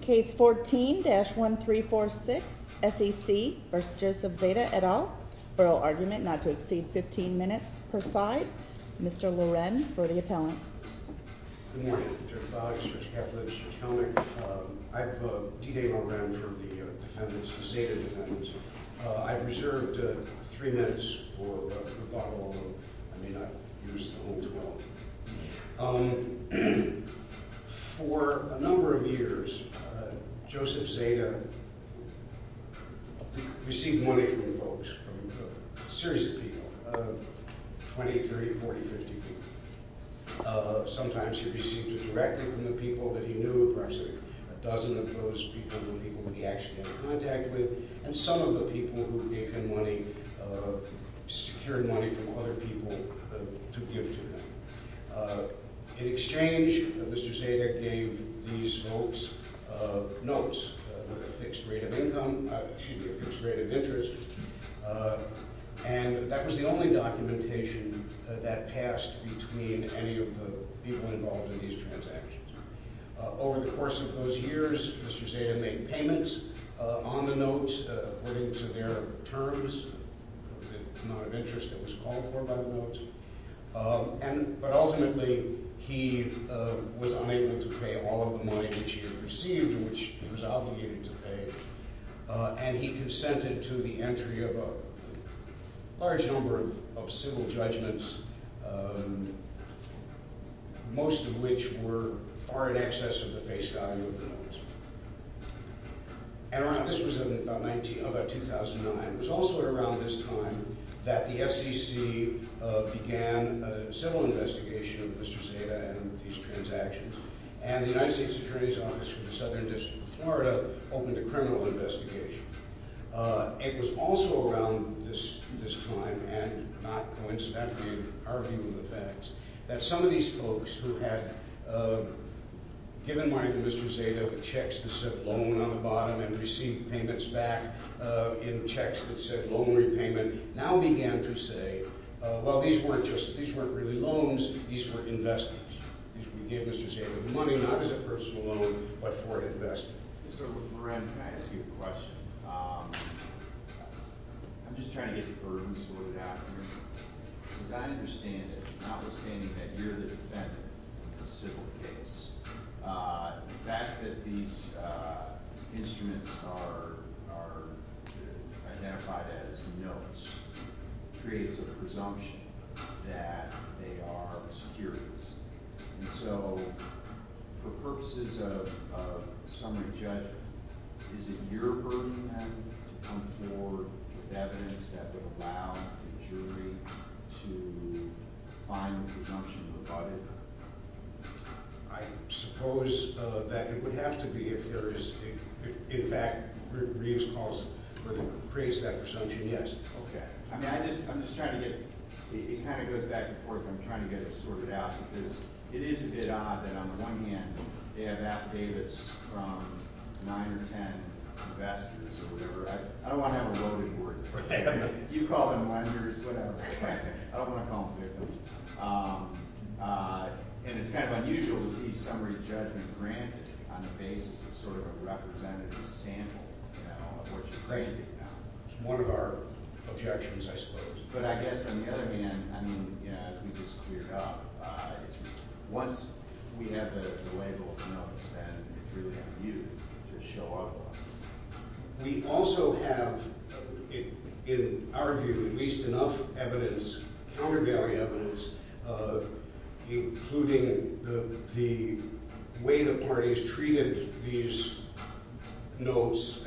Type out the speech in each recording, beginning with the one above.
Case 14-1346, S.E.C. v. Joseph Zada, et al. Feral argument not to exceed 15 minutes per side. Mr. Loren for the appellant. Good morning, Judge Boggs, Judge Kaplan, Judge Kellnick. I've D-Day my round for the defendants, the Zada defendants. I've reserved three minutes for rebuttal. I may not use the whole 12. For a number of years, Joseph Zada received money from folks, from a series of people, 20, 30, 40, 50 people. Sometimes he received it directly from the people that he knew. Perhaps a dozen of those people were people that he actually had contact with. And some of the people who gave him money secured money from other people to give to him. In exchange, Mr. Zada gave these folks notes with a fixed rate of income, excuse me, a fixed rate of interest. And that was the only documentation that passed between any of the people involved in these transactions. Over the course of those years, Mr. Zada made payments on the notes according to their terms. The amount of interest that was called for by the notes. But ultimately, he was unable to pay all of the money which he had received, which he was obligated to pay. And he consented to the entry of a large number of civil judgments, most of which were far in excess of the face value of the notes. And this was in about 2009. It was also around this time that the FCC began a civil investigation of Mr. Zada and these transactions. And the United States Attorney's Office for the Southern District of Florida opened a criminal investigation. It was also around this time, and not coincidentally, I'm arguing the facts, that some of these folks who had given money to Mr. Zada with checks that said loan on the bottom and received payments back in checks that said loan repayment, now began to say, well, these weren't really loans, these were investments. These were given to Mr. Zada with money, not as a personal loan, but for an investment. Mr. Moran, can I ask you a question? I'm just trying to get the burden sorted out here. As I understand it, notwithstanding that you're the defendant in the civil case, the fact that these instruments are identified as notes creates a presumption that they are securities. And so for purposes of summary judgment, is it your burden to come forward with evidence that would allow the jury to find a presumption about it? I suppose that it would have to be if there is, in fact, Reeves calls, creates that presumption, yes. Okay. I mean, I'm just trying to get – it kind of goes back and forth. I'm trying to get it sorted out because it is a bit odd that on the one hand, they have Apt. Davids from 9 or 10 investors or whatever. I don't want to have a loading board. You call them lenders, whatever. I don't want to call them victims. And it's kind of unusual to see summary judgment granted on the basis of sort of a representative sample of what you're granting now. It's one of our objections, I suppose. But I guess on the other hand, I mean, as we just cleared up, once we have the label of the notes, then it's really up to you to show up on it. We also have, in our view, at least enough evidence, countervailing evidence, including the way the parties treated these notes,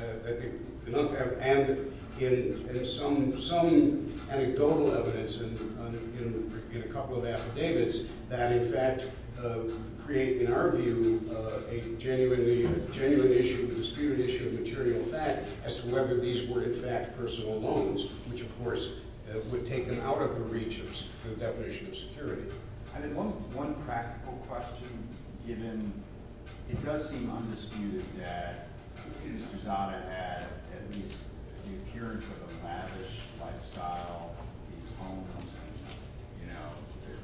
and some anecdotal evidence in a couple of affidavits that in fact create, in our view, a genuine issue, a disputed issue of material fact as to whether these were in fact personal loans, which of course would take them out of the reach of the definition of security. I mean, one practical question, given it does seem undisputed that Judith Guzada had at least the appearance of a lavish lifestyle, these homes and, you know,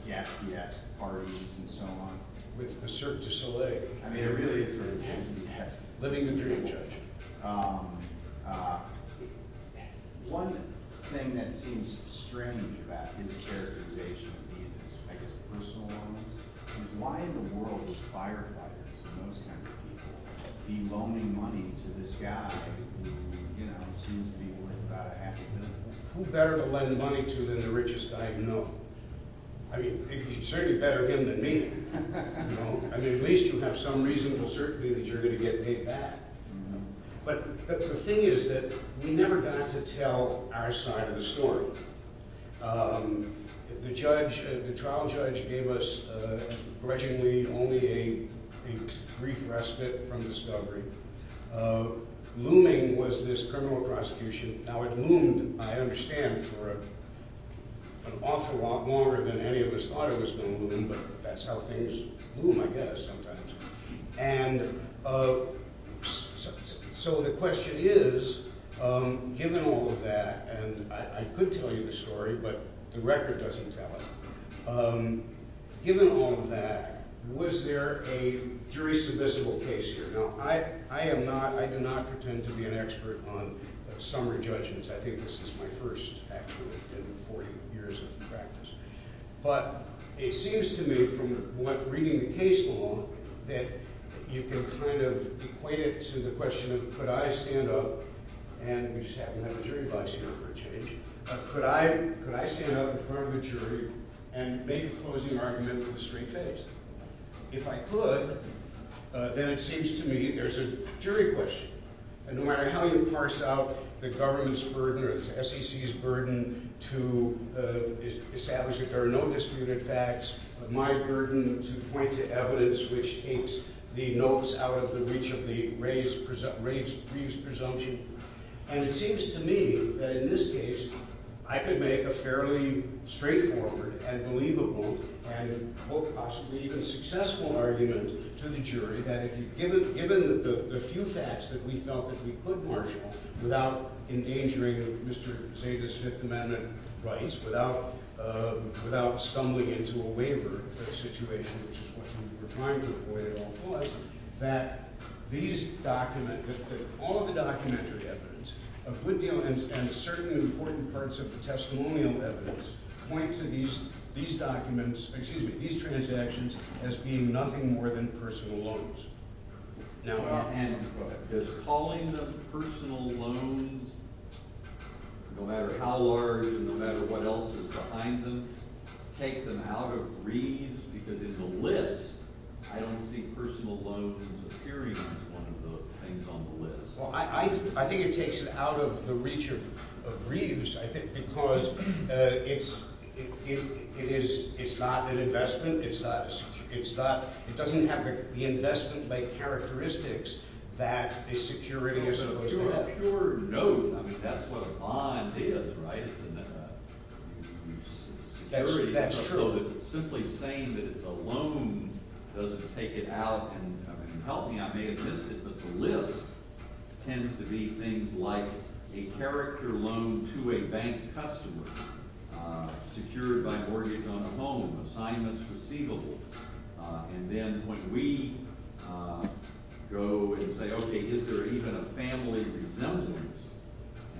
their gassy-ass parties and so on. With a cert de soleil. I mean, it really is a living dream, Judge. One thing that seems strange about his characterization of these as, I guess, personal loans is why in the world would firefighters and those kinds of people be loaning money to this guy who, you know, seems to be worth about a half a million dollars? Who better to lend money to than the richest I know? I mean, it's certainly better him than me. I mean, at least you have some reasonable certainty that you're going to get paid back. But the thing is that we never got to tell our side of the story. The trial judge gave us, grudgingly, only a brief respite from discovery. Looming was this criminal prosecution. Now, it loomed, I understand, for an awful lot longer than any of us thought it was going to loom, but that's how things loom, I guess, sometimes. And so the question is, given all of that, and I could tell you the story, but the record doesn't tell it. Given all of that, was there a jury-submissible case here? Now, I am not – I do not pretend to be an expert on summary judgments. I think this is my first, actually, in 40 years of practice. But it seems to me from reading the case law that you can kind of equate it to the question of could I stand up – and we just haven't had a jury vice here for a change – could I stand up in front of a jury and make a closing argument with a straight face? If I could, then it seems to me there's a jury question. And no matter how you parse out the government's burden or the SEC's burden to establish that there are no disputed facts, my burden to point to evidence which takes the notes out of the reach of the raised presumption, And it seems to me that in this case I could make a fairly straightforward and believable and, quote, possibly even successful argument to the jury that given the few facts that we felt that we could marshal without endangering Mr. Zeta's Fifth Amendment rights, without stumbling into a waiver situation, which is what we're trying to avoid at all costs, that all of the documentary evidence, a good deal, and certainly important parts of the testimonial evidence, point to these transactions as being nothing more than personal loans. Now, is calling them personal loans, no matter how large and no matter what else is behind them, take them out of reads? Because in the list, I don't see personal loans appearing as one of the things on the list. Well, I think it takes it out of the reach of reads, I think, because it's not an investment. It doesn't have the investment-like characteristics that a security is supposed to have. I mean, that's what a bond is, right? That's true. Simply saying that it's a loan doesn't take it out. And help me, I may have missed it, but the list tends to be things like a character loan to a bank customer, secured by mortgage on a home, assignments receivable. And then when we go and say, okay, is there even a family resemblance,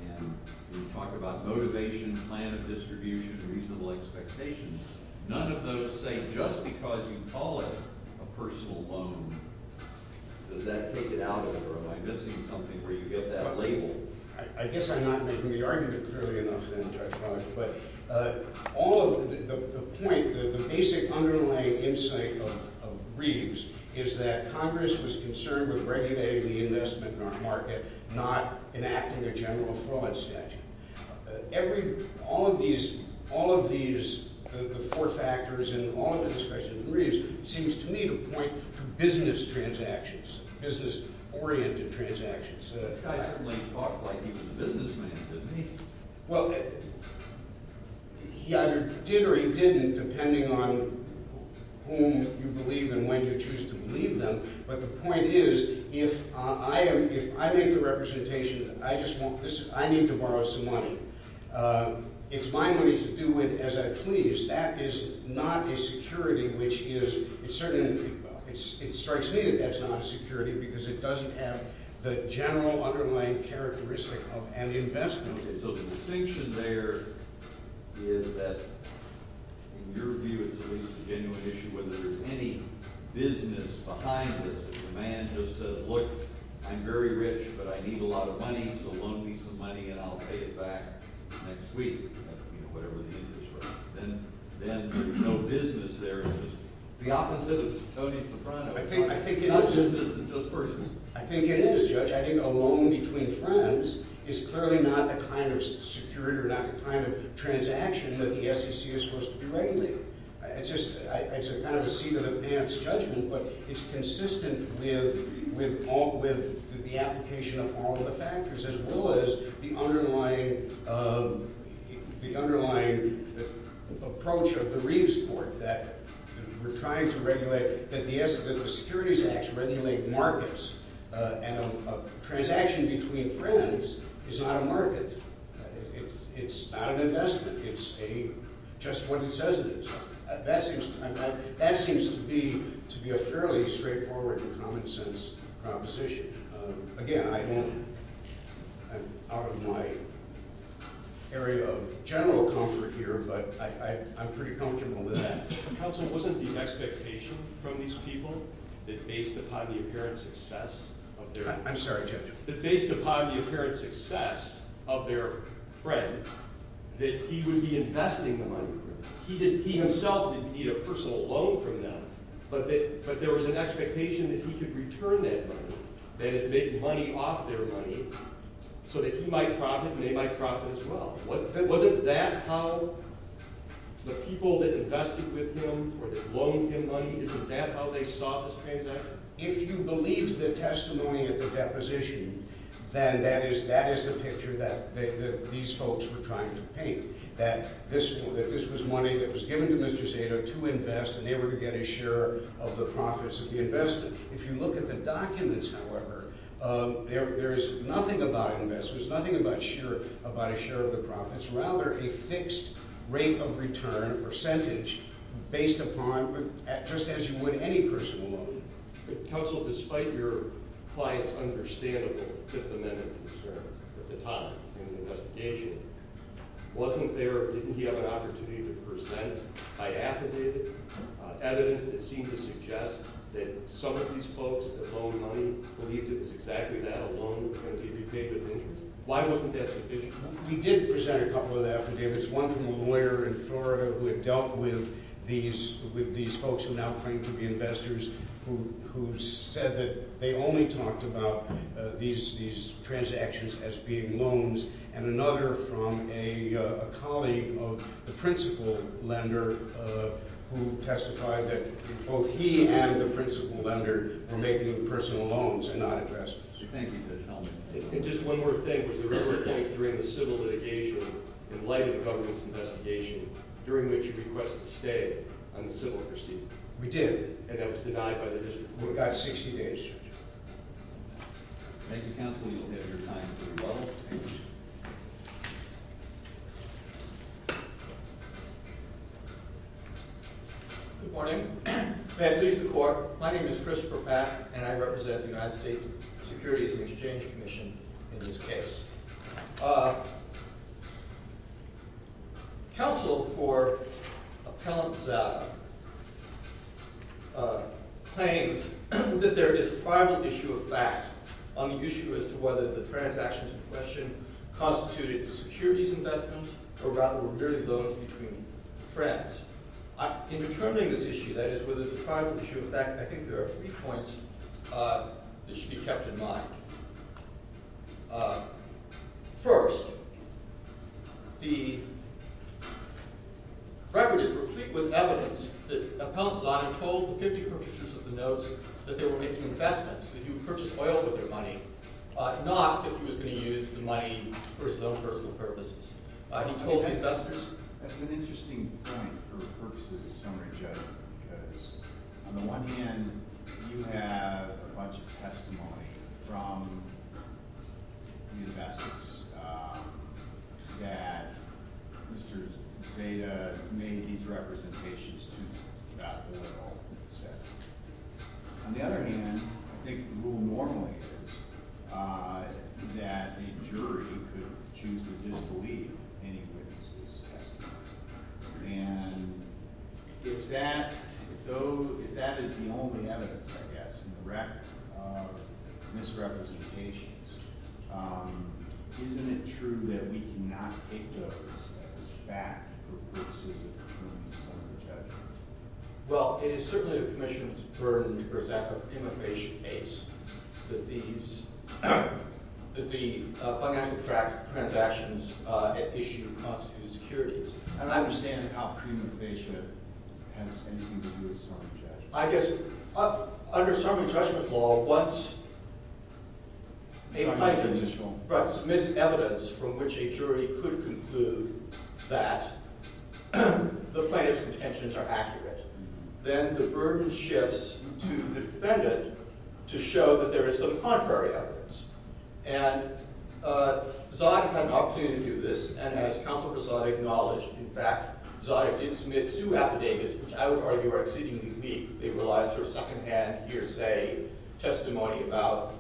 and we talk about motivation, plan of distribution, reasonable expectations, none of those say just because you call it a personal loan, does that take it out, or am I missing something where you get that label? I guess I'm not making the argument clearly enough, but all of the point, the basic underlying insight of Reeves is that Congress was concerned with regulating the investment market, not enacting a general fraud statute. All of these, the four factors in all of the discussions in Reeves, seems to me to point to business transactions, business-oriented transactions. The guy certainly talked like he was a businessman, didn't he? Well, he either did or he didn't, depending on whom you believe and when you choose to believe them. But the point is, if I make the representation that I just want this, I need to borrow some money, it's my money to do with as I please, that is not a security which is, it certainly, it strikes me that that's not a security because it doesn't have the general underlying characteristic of an investment. So the distinction there is that, in your view, it's a genuine issue whether there's any business behind this. If a man just says, look, I'm very rich, but I need a lot of money, so loan me some money and I'll pay it back next week, whatever the interest rate, then there's no business there. It's the opposite of Tony Soprano. I think it is. Not business, it's just personal. I think it is, Judge. I think a loan between friends is clearly not the kind of security or not the kind of transaction that the SEC is supposed to do regularly. It's just, it's kind of a seat-in-the-pants judgment, but it's consistent with the application of all of the factors as well as the underlying approach of the Reeves Court that we're trying to regulate, that the Securities Act regulate markets, and a transaction between friends is not a market. It's not an investment. It's just what it says it is. That seems to be a fairly straightforward and common-sense proposition. Again, I'm out of my area of general comfort here, but I'm pretty comfortable with that. Counsel, wasn't the expectation from these people that based upon the apparent success of their friend that he would be investing the money? He himself didn't need a personal loan from them, but there was an expectation that he could return that money, that is, make money off their money so that he might profit and they might profit as well. Wasn't that how the people that invested with him or that loaned him money, isn't that how they saw this transaction? If you believe the testimony at the deposition, then that is the picture that these folks were trying to paint, that this was money that was given to Mr. Zato to invest, and they were to get a share of the profits of the investment. If you look at the documents, however, there is nothing about investors, nothing about a share of the profits, rather a fixed rate of return, a percentage, based upon, just as you would any personal loan. Counsel, despite your client's understandable Fifth Amendment concerns at the time in the investigation, wasn't there, didn't he have an opportunity to present by affidavit evidence that seemed to suggest that some of these folks that loaned money believed it was exactly that, a loan that could be repaid with interest? Why wasn't that sufficient? We did present a couple of affidavits, one from a lawyer in Florida who had dealt with these folks who now claim to be investors who said that they only talked about these transactions as being loans, and another from a colleague of the principal lender who testified that both he and the principal lender were making personal loans and not investments. And just one more thing, was there a point during the civil litigation, in light of the government's investigation, during which you requested to stay on the civil proceeding? We did, and that was denied by the district court. We got 60 days. Thank you, counsel. You'll have your time to rebuttal. Good morning. May I please the court? My name is Christopher Pack, and I represent the United States Securities and Exchange Commission in this case. Counsel for Appellant Zava claims that there is a private issue of fact on the issue as to whether the transactions in question constituted securities investments or rather were merely loans between friends. In determining this issue, that is, whether it's a private issue of fact, I think there are three points that should be kept in mind. First, the record is replete with evidence that Appellant Zava told the 50 purchasers of the notes that they were making investments, that he would purchase oil with their money, not that he was going to use the money for his own personal purposes. That's an interesting point for purposes of summary judgment because on the one hand, you have a bunch of testimony from the investors that Mr. Zeta made his representations to about the oil. On the other hand, I think the rule normally is that a jury could choose to disbelieve any witnesses' testimony. And if that is the only evidence, I guess, in the record of misrepresentations, isn't it true that we cannot take those as fact for purposes of summary judgment? Well, it is certainly the Commission's burden to present a pre-motivation case that the financial transactions issue constitute securities. And I understand how pre-motivation has anything to do with summary judgment. I guess under summary judgment law, once a plaintiff submits evidence from which a jury could conclude that the plaintiff's intentions are accurate, then the burden shifts to the defendant to show that there is some contrary evidence. And Zoddick had an opportunity to do this, and as counsel for Zoddick acknowledged, in fact, Zoddick didn't submit two affidavits, which I would argue are exceedingly weak. They relied on sort of secondhand hearsay testimony about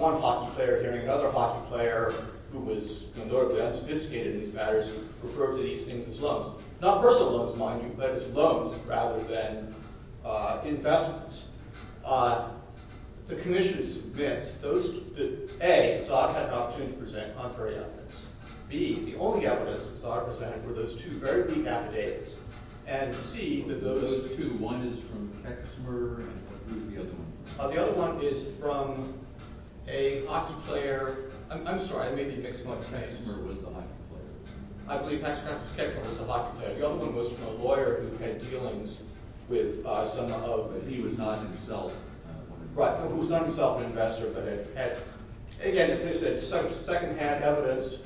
one hockey player hearing another hockey player, who was notably unsophisticated in these matters, refer to these things as loans. Not personal loans, mind you, but as loans rather than investments. The Commission admits that, A, Zoddick had an opportunity to present contrary evidence. B, the only evidence that Zoddick presented were those two very weak affidavits. And C, that those— Those two, one is from Keck's murder, and who's the other one? The other one is from a hockey player. I'm sorry, I may be mixing up names. Keck's murder was the hockey player. I believe Hacks and Hacks was Keck's murder. It was the hockey player. The other one was from a lawyer who had dealings with some of— But he was not himself an investor. Right, who was not himself an investor, but had, again, as I said, secondhand evidence.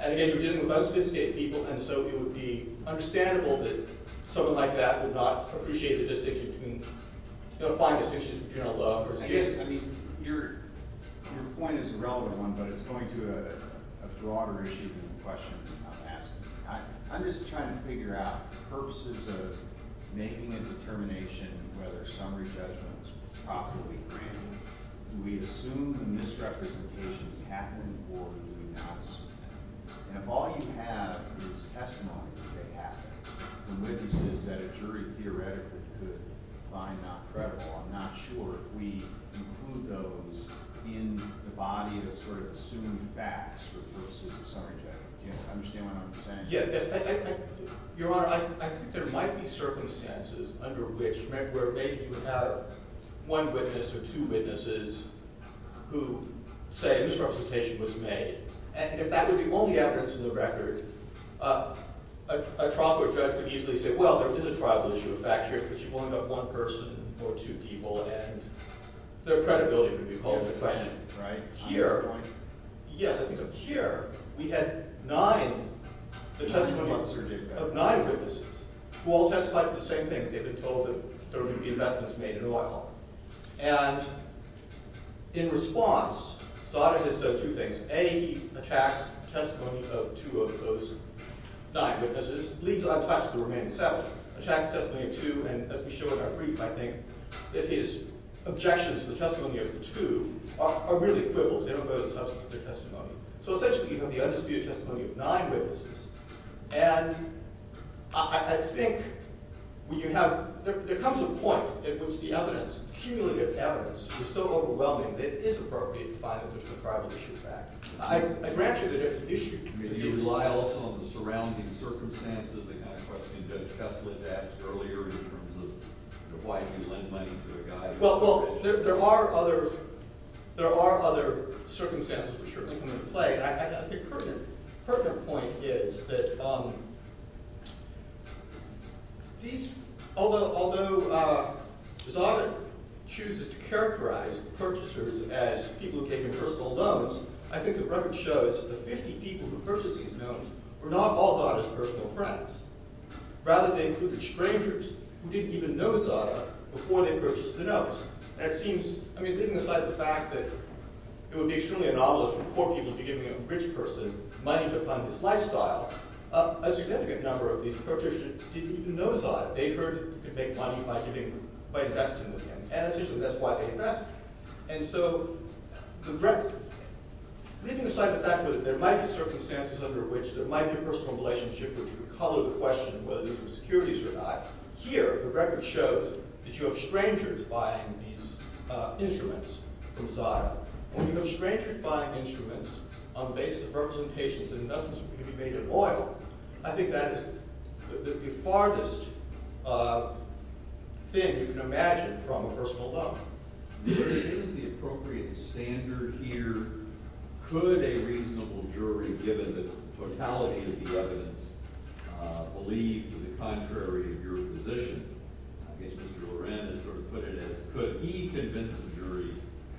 And again, he was dealing with unsophisticated people, and so it would be understandable that someone like that would not appreciate the distinction between— you know, find distinctions between a love or— I guess, I mean, your point is a relevant one, but it's going to a broader issue than the question I'm asking. I'm just trying to figure out purposes of making a determination whether summary judgment is properly granted. Do we assume the misrepresentations happen, or do we not assume them? And if all you have is testimony that they happen, and witnesses that a jury theoretically could find not credible, I'm not sure if we include those in the body that sort of assumed facts for purposes of summary judgment. Do you understand what I'm saying? Yeah, yes. Your Honor, I think there might be circumstances under which— where maybe you have one witness or two witnesses who say a misrepresentation was made, and if that were the only evidence in the record, a trial court judge could easily say, well, there is a tribal issue of fact here because you've only got one person or two people, and their credibility would be called into question. Yes, I think up here we had nine—the testimony of nine witnesses who all testified to the same thing. They've been told that there were going to be investments made in oil. And in response, Sotomayor has done two things. A, he attacks testimony of two of those nine witnesses, leaves out the remaining seven, attacks testimony of two, and as we show in our brief, I think, that his objections to the testimony of the two are really quibbles. They don't go to the substance of their testimony. So essentially, you have the undisputed testimony of nine witnesses. And I think when you have—there comes a point at which the evidence, cumulative evidence, is so overwhelming that it is appropriate to find out if there's a tribal issue of fact. I grant you that it's an issue. Do you rely also on the surrounding circumstances? I kind of questioned Judge Kessler that earlier in terms of why you lend money to a guy— Well, there are other circumstances, for sure, that come into play. I think the pertinent point is that these—although Zobit chooses to characterize the purchasers as people who gave him personal loans, I think the record shows that the 50 people who purchased these loans were not all Zobit's personal friends. Rather, they included strangers who didn't even know Zobit before they purchased the notes. And it seems—I mean, leaving aside the fact that it would be extremely anomalous for poor people to be giving a rich person money to fund his lifestyle, a significant number of these purchasers didn't even know Zobit. They heard he could make money by investing with him. And essentially, that's why they invested. And so the record—leaving aside the fact that there might be circumstances under which there might be a personal relationship which would color the question whether these were securities or not, here, the record shows that you have strangers buying these instruments from Zobit. And when you have strangers buying instruments on the basis of representations that in essence could be made immoral, I think that is the farthest thing you can imagine from a personal loan. Where is the appropriate standard here? Could a reasonable jury, given the totality of the evidence, believe to the contrary of your position? I guess Mr. Loran has sort of put it as, could he convince a jury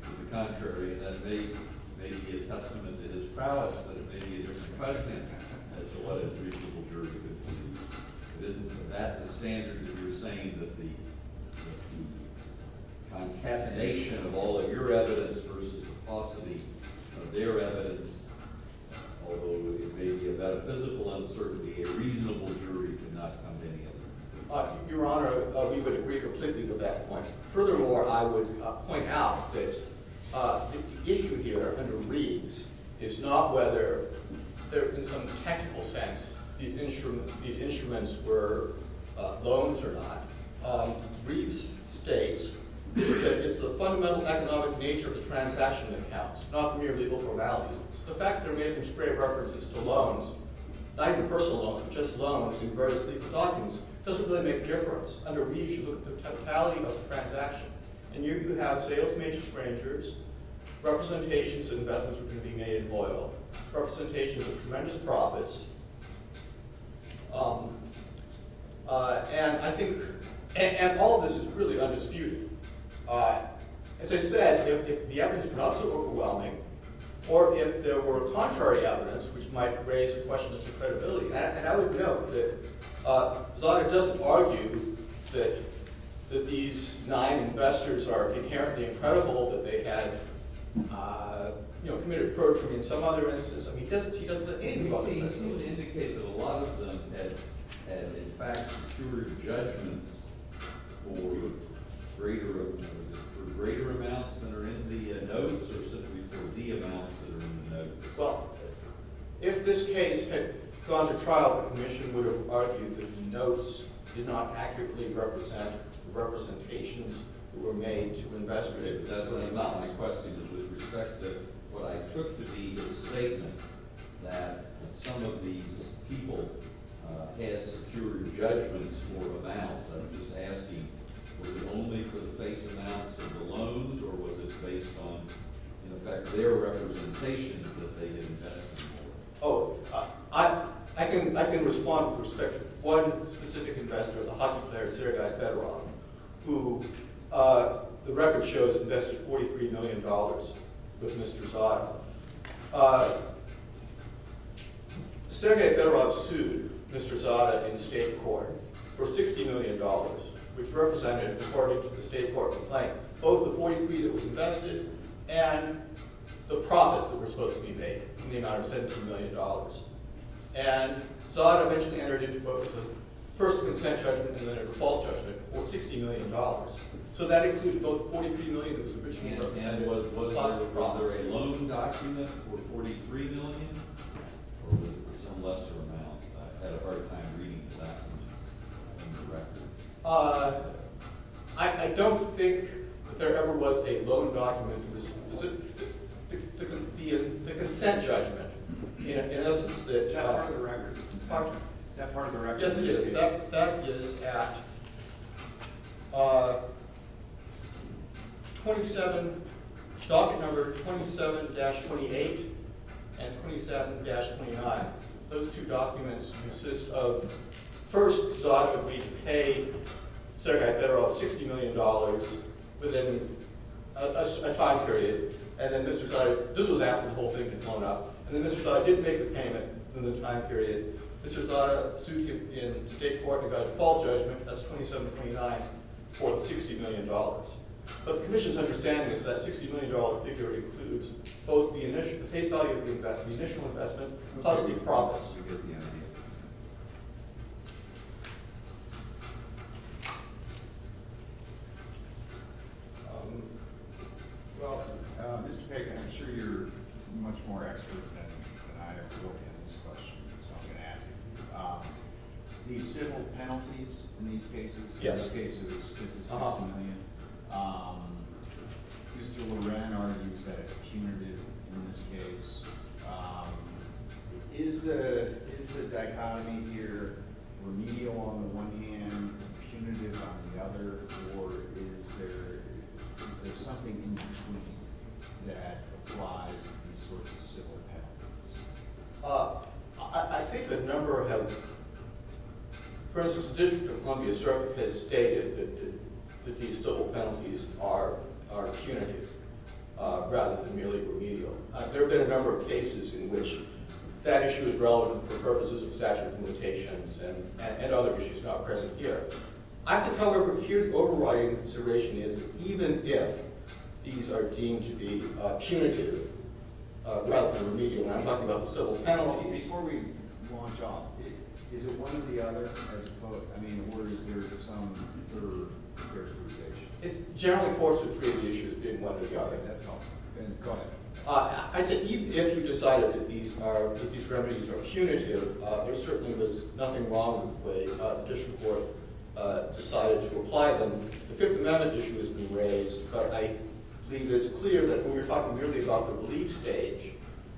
to the contrary? And that may be a testament to his prowess, that it may be a different question as to what a reasonable jury could do. Isn't that the standard? You're saying that the concatenation of all of your evidence versus the capacity of their evidence, although it may be a metaphysical uncertainty, a reasonable jury could not come to any of that. Your Honor, we would agree completely with that point. Furthermore, I would point out that the issue here under Reeves is not whether, in some technical sense, these instruments were loans or not. Reeves states that it's the fundamental economic nature of the transaction accounts, not mere legal formalities. The fact that they're making straight references to loans, not even personal loans, but just loans in various legal documents, doesn't really make a difference. Under Reeves, you look at the totality of the transaction. And here you have sales made to strangers, representations of investments which are being made in oil, representations of tremendous profits, and all of this is really undisputed. As I said, if the evidence were not so overwhelming, or if there were contrary evidence which might raise questions of credibility, and I would note that Zagreb doesn't argue that these nine investors are inherently incredible, that they had committed protruding in some other instance. He doesn't indicate that a lot of them had, in fact, secured judgments for greater amounts than are in the notes, or simply for the amounts that are in the notes. If this case had gone to trial, the commission would have argued that the notes did not accurately represent the representations that were made to investors. That's not my question. With respect to what I took to be the statement that some of these people had secured judgments for amounts, I'm just asking, was it only for the face amounts of the loans, or was it based on, in effect, their representations that they had invested in oil? Oh, I can respond with respect to one specific investor, the hockey player Sergey Fedorov, who the record shows invested $43 million with Mr. Zadar. Sergey Fedorov sued Mr. Zadar in state court for $60 million, which represented, according to the state court complaint, both the 43 that was invested and the profits that were supposed to be made in the amount of $70 million. And Zadar eventually entered into both the first consent judgment and then a default judgment for $60 million. So that included both the 43 million that was originally represented and the profits. Was there a loan document for 43 million, or was it some lesser amount? I had a hard time reading the documents in the record. I don't think that there ever was a loan document. The consent judgment, in essence, that's how— Is that part of the record? Yes, it is. That is at docket number 27-28 and 27-29. Those two documents consist of, first, Zadar completely paid Sergey Fedorov $60 million within a time period. And then Mr. Zadar—this was after the whole thing had blown up. And then Mr. Zadar didn't make the payment within the time period. Mr. Zadar sued him in state court and got a default judgment. That's 27-29 for the $60 million. But the commission's understanding is that $60 million figure includes both the face value of the investment, the initial investment, plus the profits. Well, Mr. Pagan, I'm sure you're much more expert than I am to look at this question, so I'm going to ask it. The civil penalties in these cases—in this case, it was $56 million. Mr. Loran argues that it's punitive in this case. Is the dichotomy here remedial on the one hand, punitive on the other, or is there something in between that applies to these sorts of civil penalties? I think a number have—for instance, the District of Columbia has stated that these civil penalties are punitive rather than merely remedial. There have been a number of cases in which that issue is relevant for purposes of statute of limitations and other issues not present here. I think, however, here the overriding consideration is that even if these are deemed to be punitive rather than remedial— And I'm talking about the civil penalties. Before we launch off, is it one or the other, as opposed—I mean, or is there some third characterization? It's generally forced to treat the issue as being one or the other, and that's all. Go ahead. I think even if you decided that these remedies are punitive, there certainly was nothing wrong with the way the district court decided to apply them. The Fifth Amendment issue has been raised, but I believe it's clear that when we're talking merely about the relief stage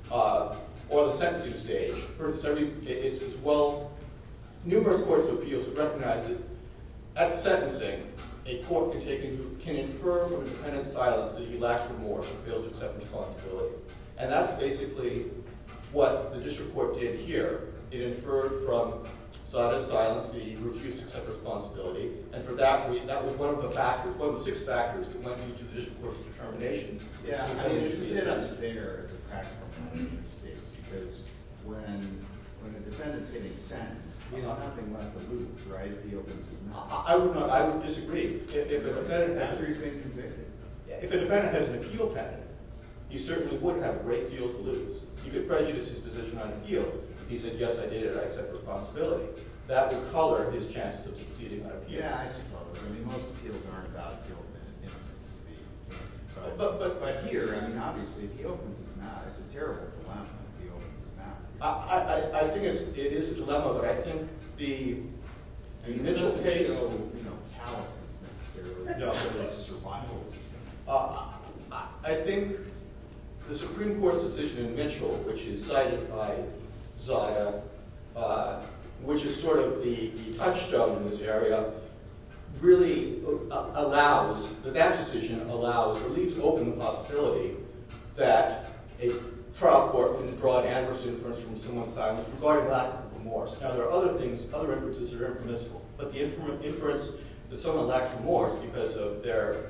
or the sentencing stage, it's well—numerous courts of appeals have recognized it. At sentencing, a court can infer from independent silence that he lacks remorse or fails to accept responsibility. And that's basically what the district court did here. It inferred from solid silence that he refused to accept responsibility. And for that reason, that was one of the factors, one of the six factors that went into the district court's determination. Yeah, I mean, it's a bit unfair as a practical punishment in this case because when a defendant's getting sentenced, he has nothing left to lose, right? If he opens his mouth. I would disagree. If a defendant— If he's being convicted. If a defendant has an appeal patent, he certainly would have a great deal to lose. You could prejudice his position on appeal if he said, yes, I did it, I accept responsibility. That would color his chances of succeeding on appeal. Yeah, I suppose. I mean, most appeals aren't about guilt and innocence. But here, I mean, obviously, if he opens his mouth, it's a terrible dilemma if he opens his mouth. I think it is a dilemma, but I think the— I mean, Mitchell's case— There's no callousness, necessarily. No. There's survivalism. I think the Supreme Court's decision in Mitchell, which is cited by Zia, which is sort of the touchstone in this area, really allows— that decision allows or leaves open the possibility that a trial court can draw an adverse inference from someone's silence regarding lack of remorse. Now, there are other things, other inferences that are impermissible, but the inference that someone lacks remorse because of their—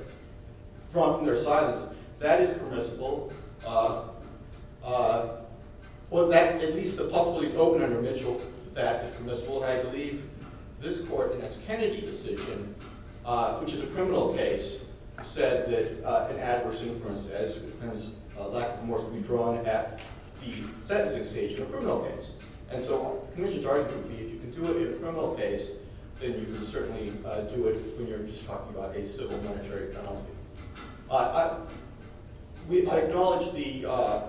drawn from their silence, that is permissible. Well, that—at least the possibility is open under Mitchell that it's permissible. And I believe this court in its Kennedy decision, which is a criminal case, said that an adverse inference as to the defendant's lack of remorse would be drawn at the sentencing stage in a criminal case. And so the commission's argument would be if you can do it in a criminal case, then you can certainly do it when you're just talking about a civil monetary penalty. I acknowledge the—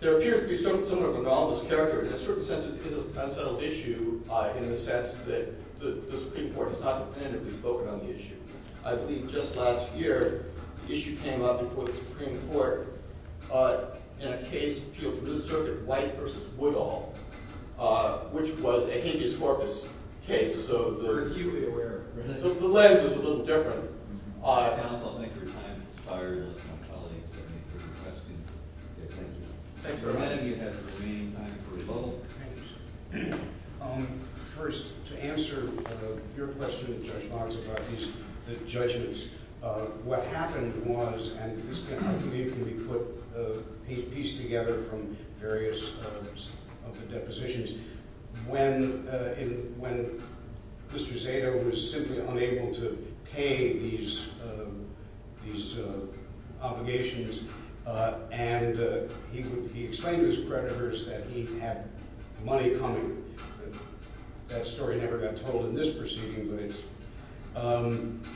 There appears to be some sort of anomalous character. In a certain sense, this is an unsettled issue in the sense that the Supreme Court has not definitively spoken on the issue. I believe just last year, the issue came up before the Supreme Court in a case appealed for the circuit, White v. Woodall, which was a habeas corpus case. So they're— We're acutely aware. The lens is a little different. Counsel, I think your time has expired. Unless my colleagues have any further questions. Okay, thank you. Thanks for reminding me ahead of the meeting time for rebuttal. First, to answer your question, Judge Barnes, about these judgments, what happened was—and this can be pieced together from various of the depositions. When Mr. Zato was simply unable to pay these obligations, and he explained to his creditors that he had money coming. That story never got told in this proceeding, but it's—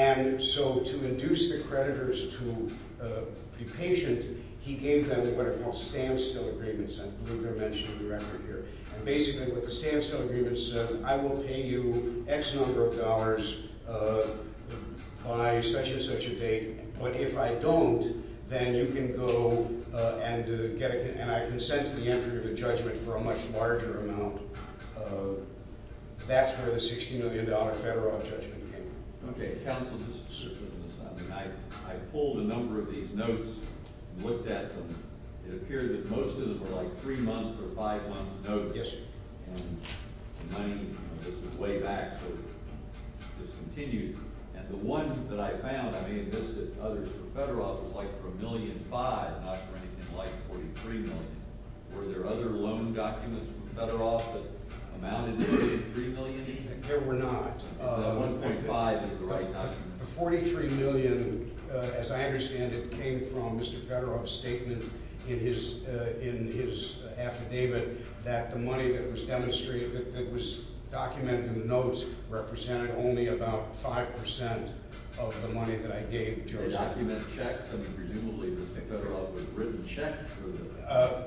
And so to induce the creditors to be patient, he gave them what are called standstill agreements. I believe they're mentioned in the record here. And basically what the standstill agreements said, I will pay you X number of dollars by such and such a date. But if I don't, then you can go and get a—and I consent to the entry of a judgment for a much larger amount. That's where the $60 million federal judgment came from. Okay, counsel, just to be specific on this, I pulled a number of these notes and looked at them. It appeared that most of them were like three-month or five-month notes. Yes. And the money—this was way back, so this continued. And the one that I found, I may have missed it, others for Federoff was like for $1.5 million, not for anything like $43 million. Were there other loan documents from Federoff that amounted to $3 million each? There were not. $1.5 is the right number. The $43 million, as I understand it, came from Mr. Federoff's statement in his affidavit that the money that was demonstrated, that was documented in the notes, represented only about 5 percent of the money that I gave Joseph. Did they document checks? I mean, presumably Mr. Federoff had written checks for them.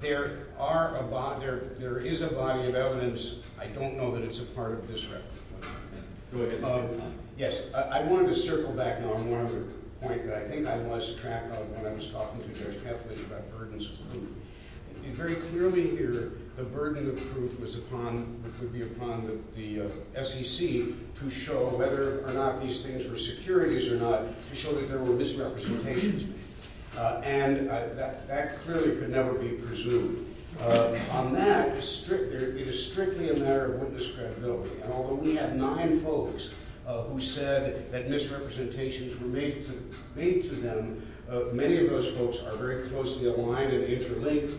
There are a—there is a body of evidence. I don't know that it's a part of this record. Go ahead. Yes. I wanted to circle back now on one other point that I think I lost track of when I was talking to Judge Kaplan about burdens of proof. Very clearly here, the burden of proof was upon—would be upon the SEC to show whether or not these things were securities or not, to show that there were misrepresentations. And that clearly could never be presumed. On that, it is strictly a matter of witness credibility. And although we have nine folks who said that misrepresentations were made to them, many of those folks are very closely aligned and interlinked.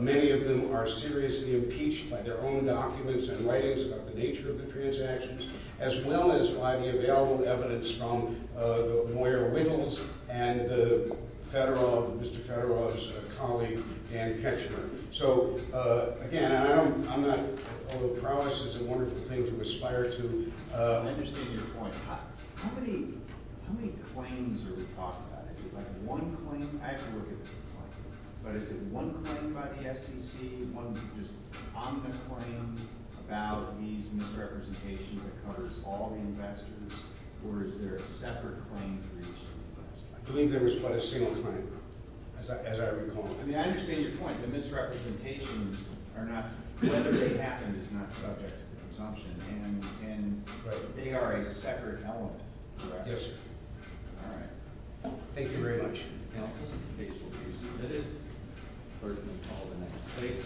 Many of them are seriously impeached by their own documents and writings about the nature of the transactions, as well as by the available evidence from Moyer Wiggles and the Federoff—Mr. Federoff's colleague, Dan Ketchner. So, again, I'm not—although prowess is a wonderful thing to aspire to— I understand your point. How many—how many claims are we talking about? Is it like one claim? I have to look at this point. But is it one claim by the SEC, one just omnipotent claim about these misrepresentations that covers all the investors, or is there a separate claim for each investor? I believe there was but a single claim, as I recall. I mean, I understand your point. The misrepresentations are not—whether they happened is not subject to presumption. And—but they are a separate element, correct? Yes, sir. All right. Thank you very much. You're welcome. Case will be submitted. Clerk will call the next case.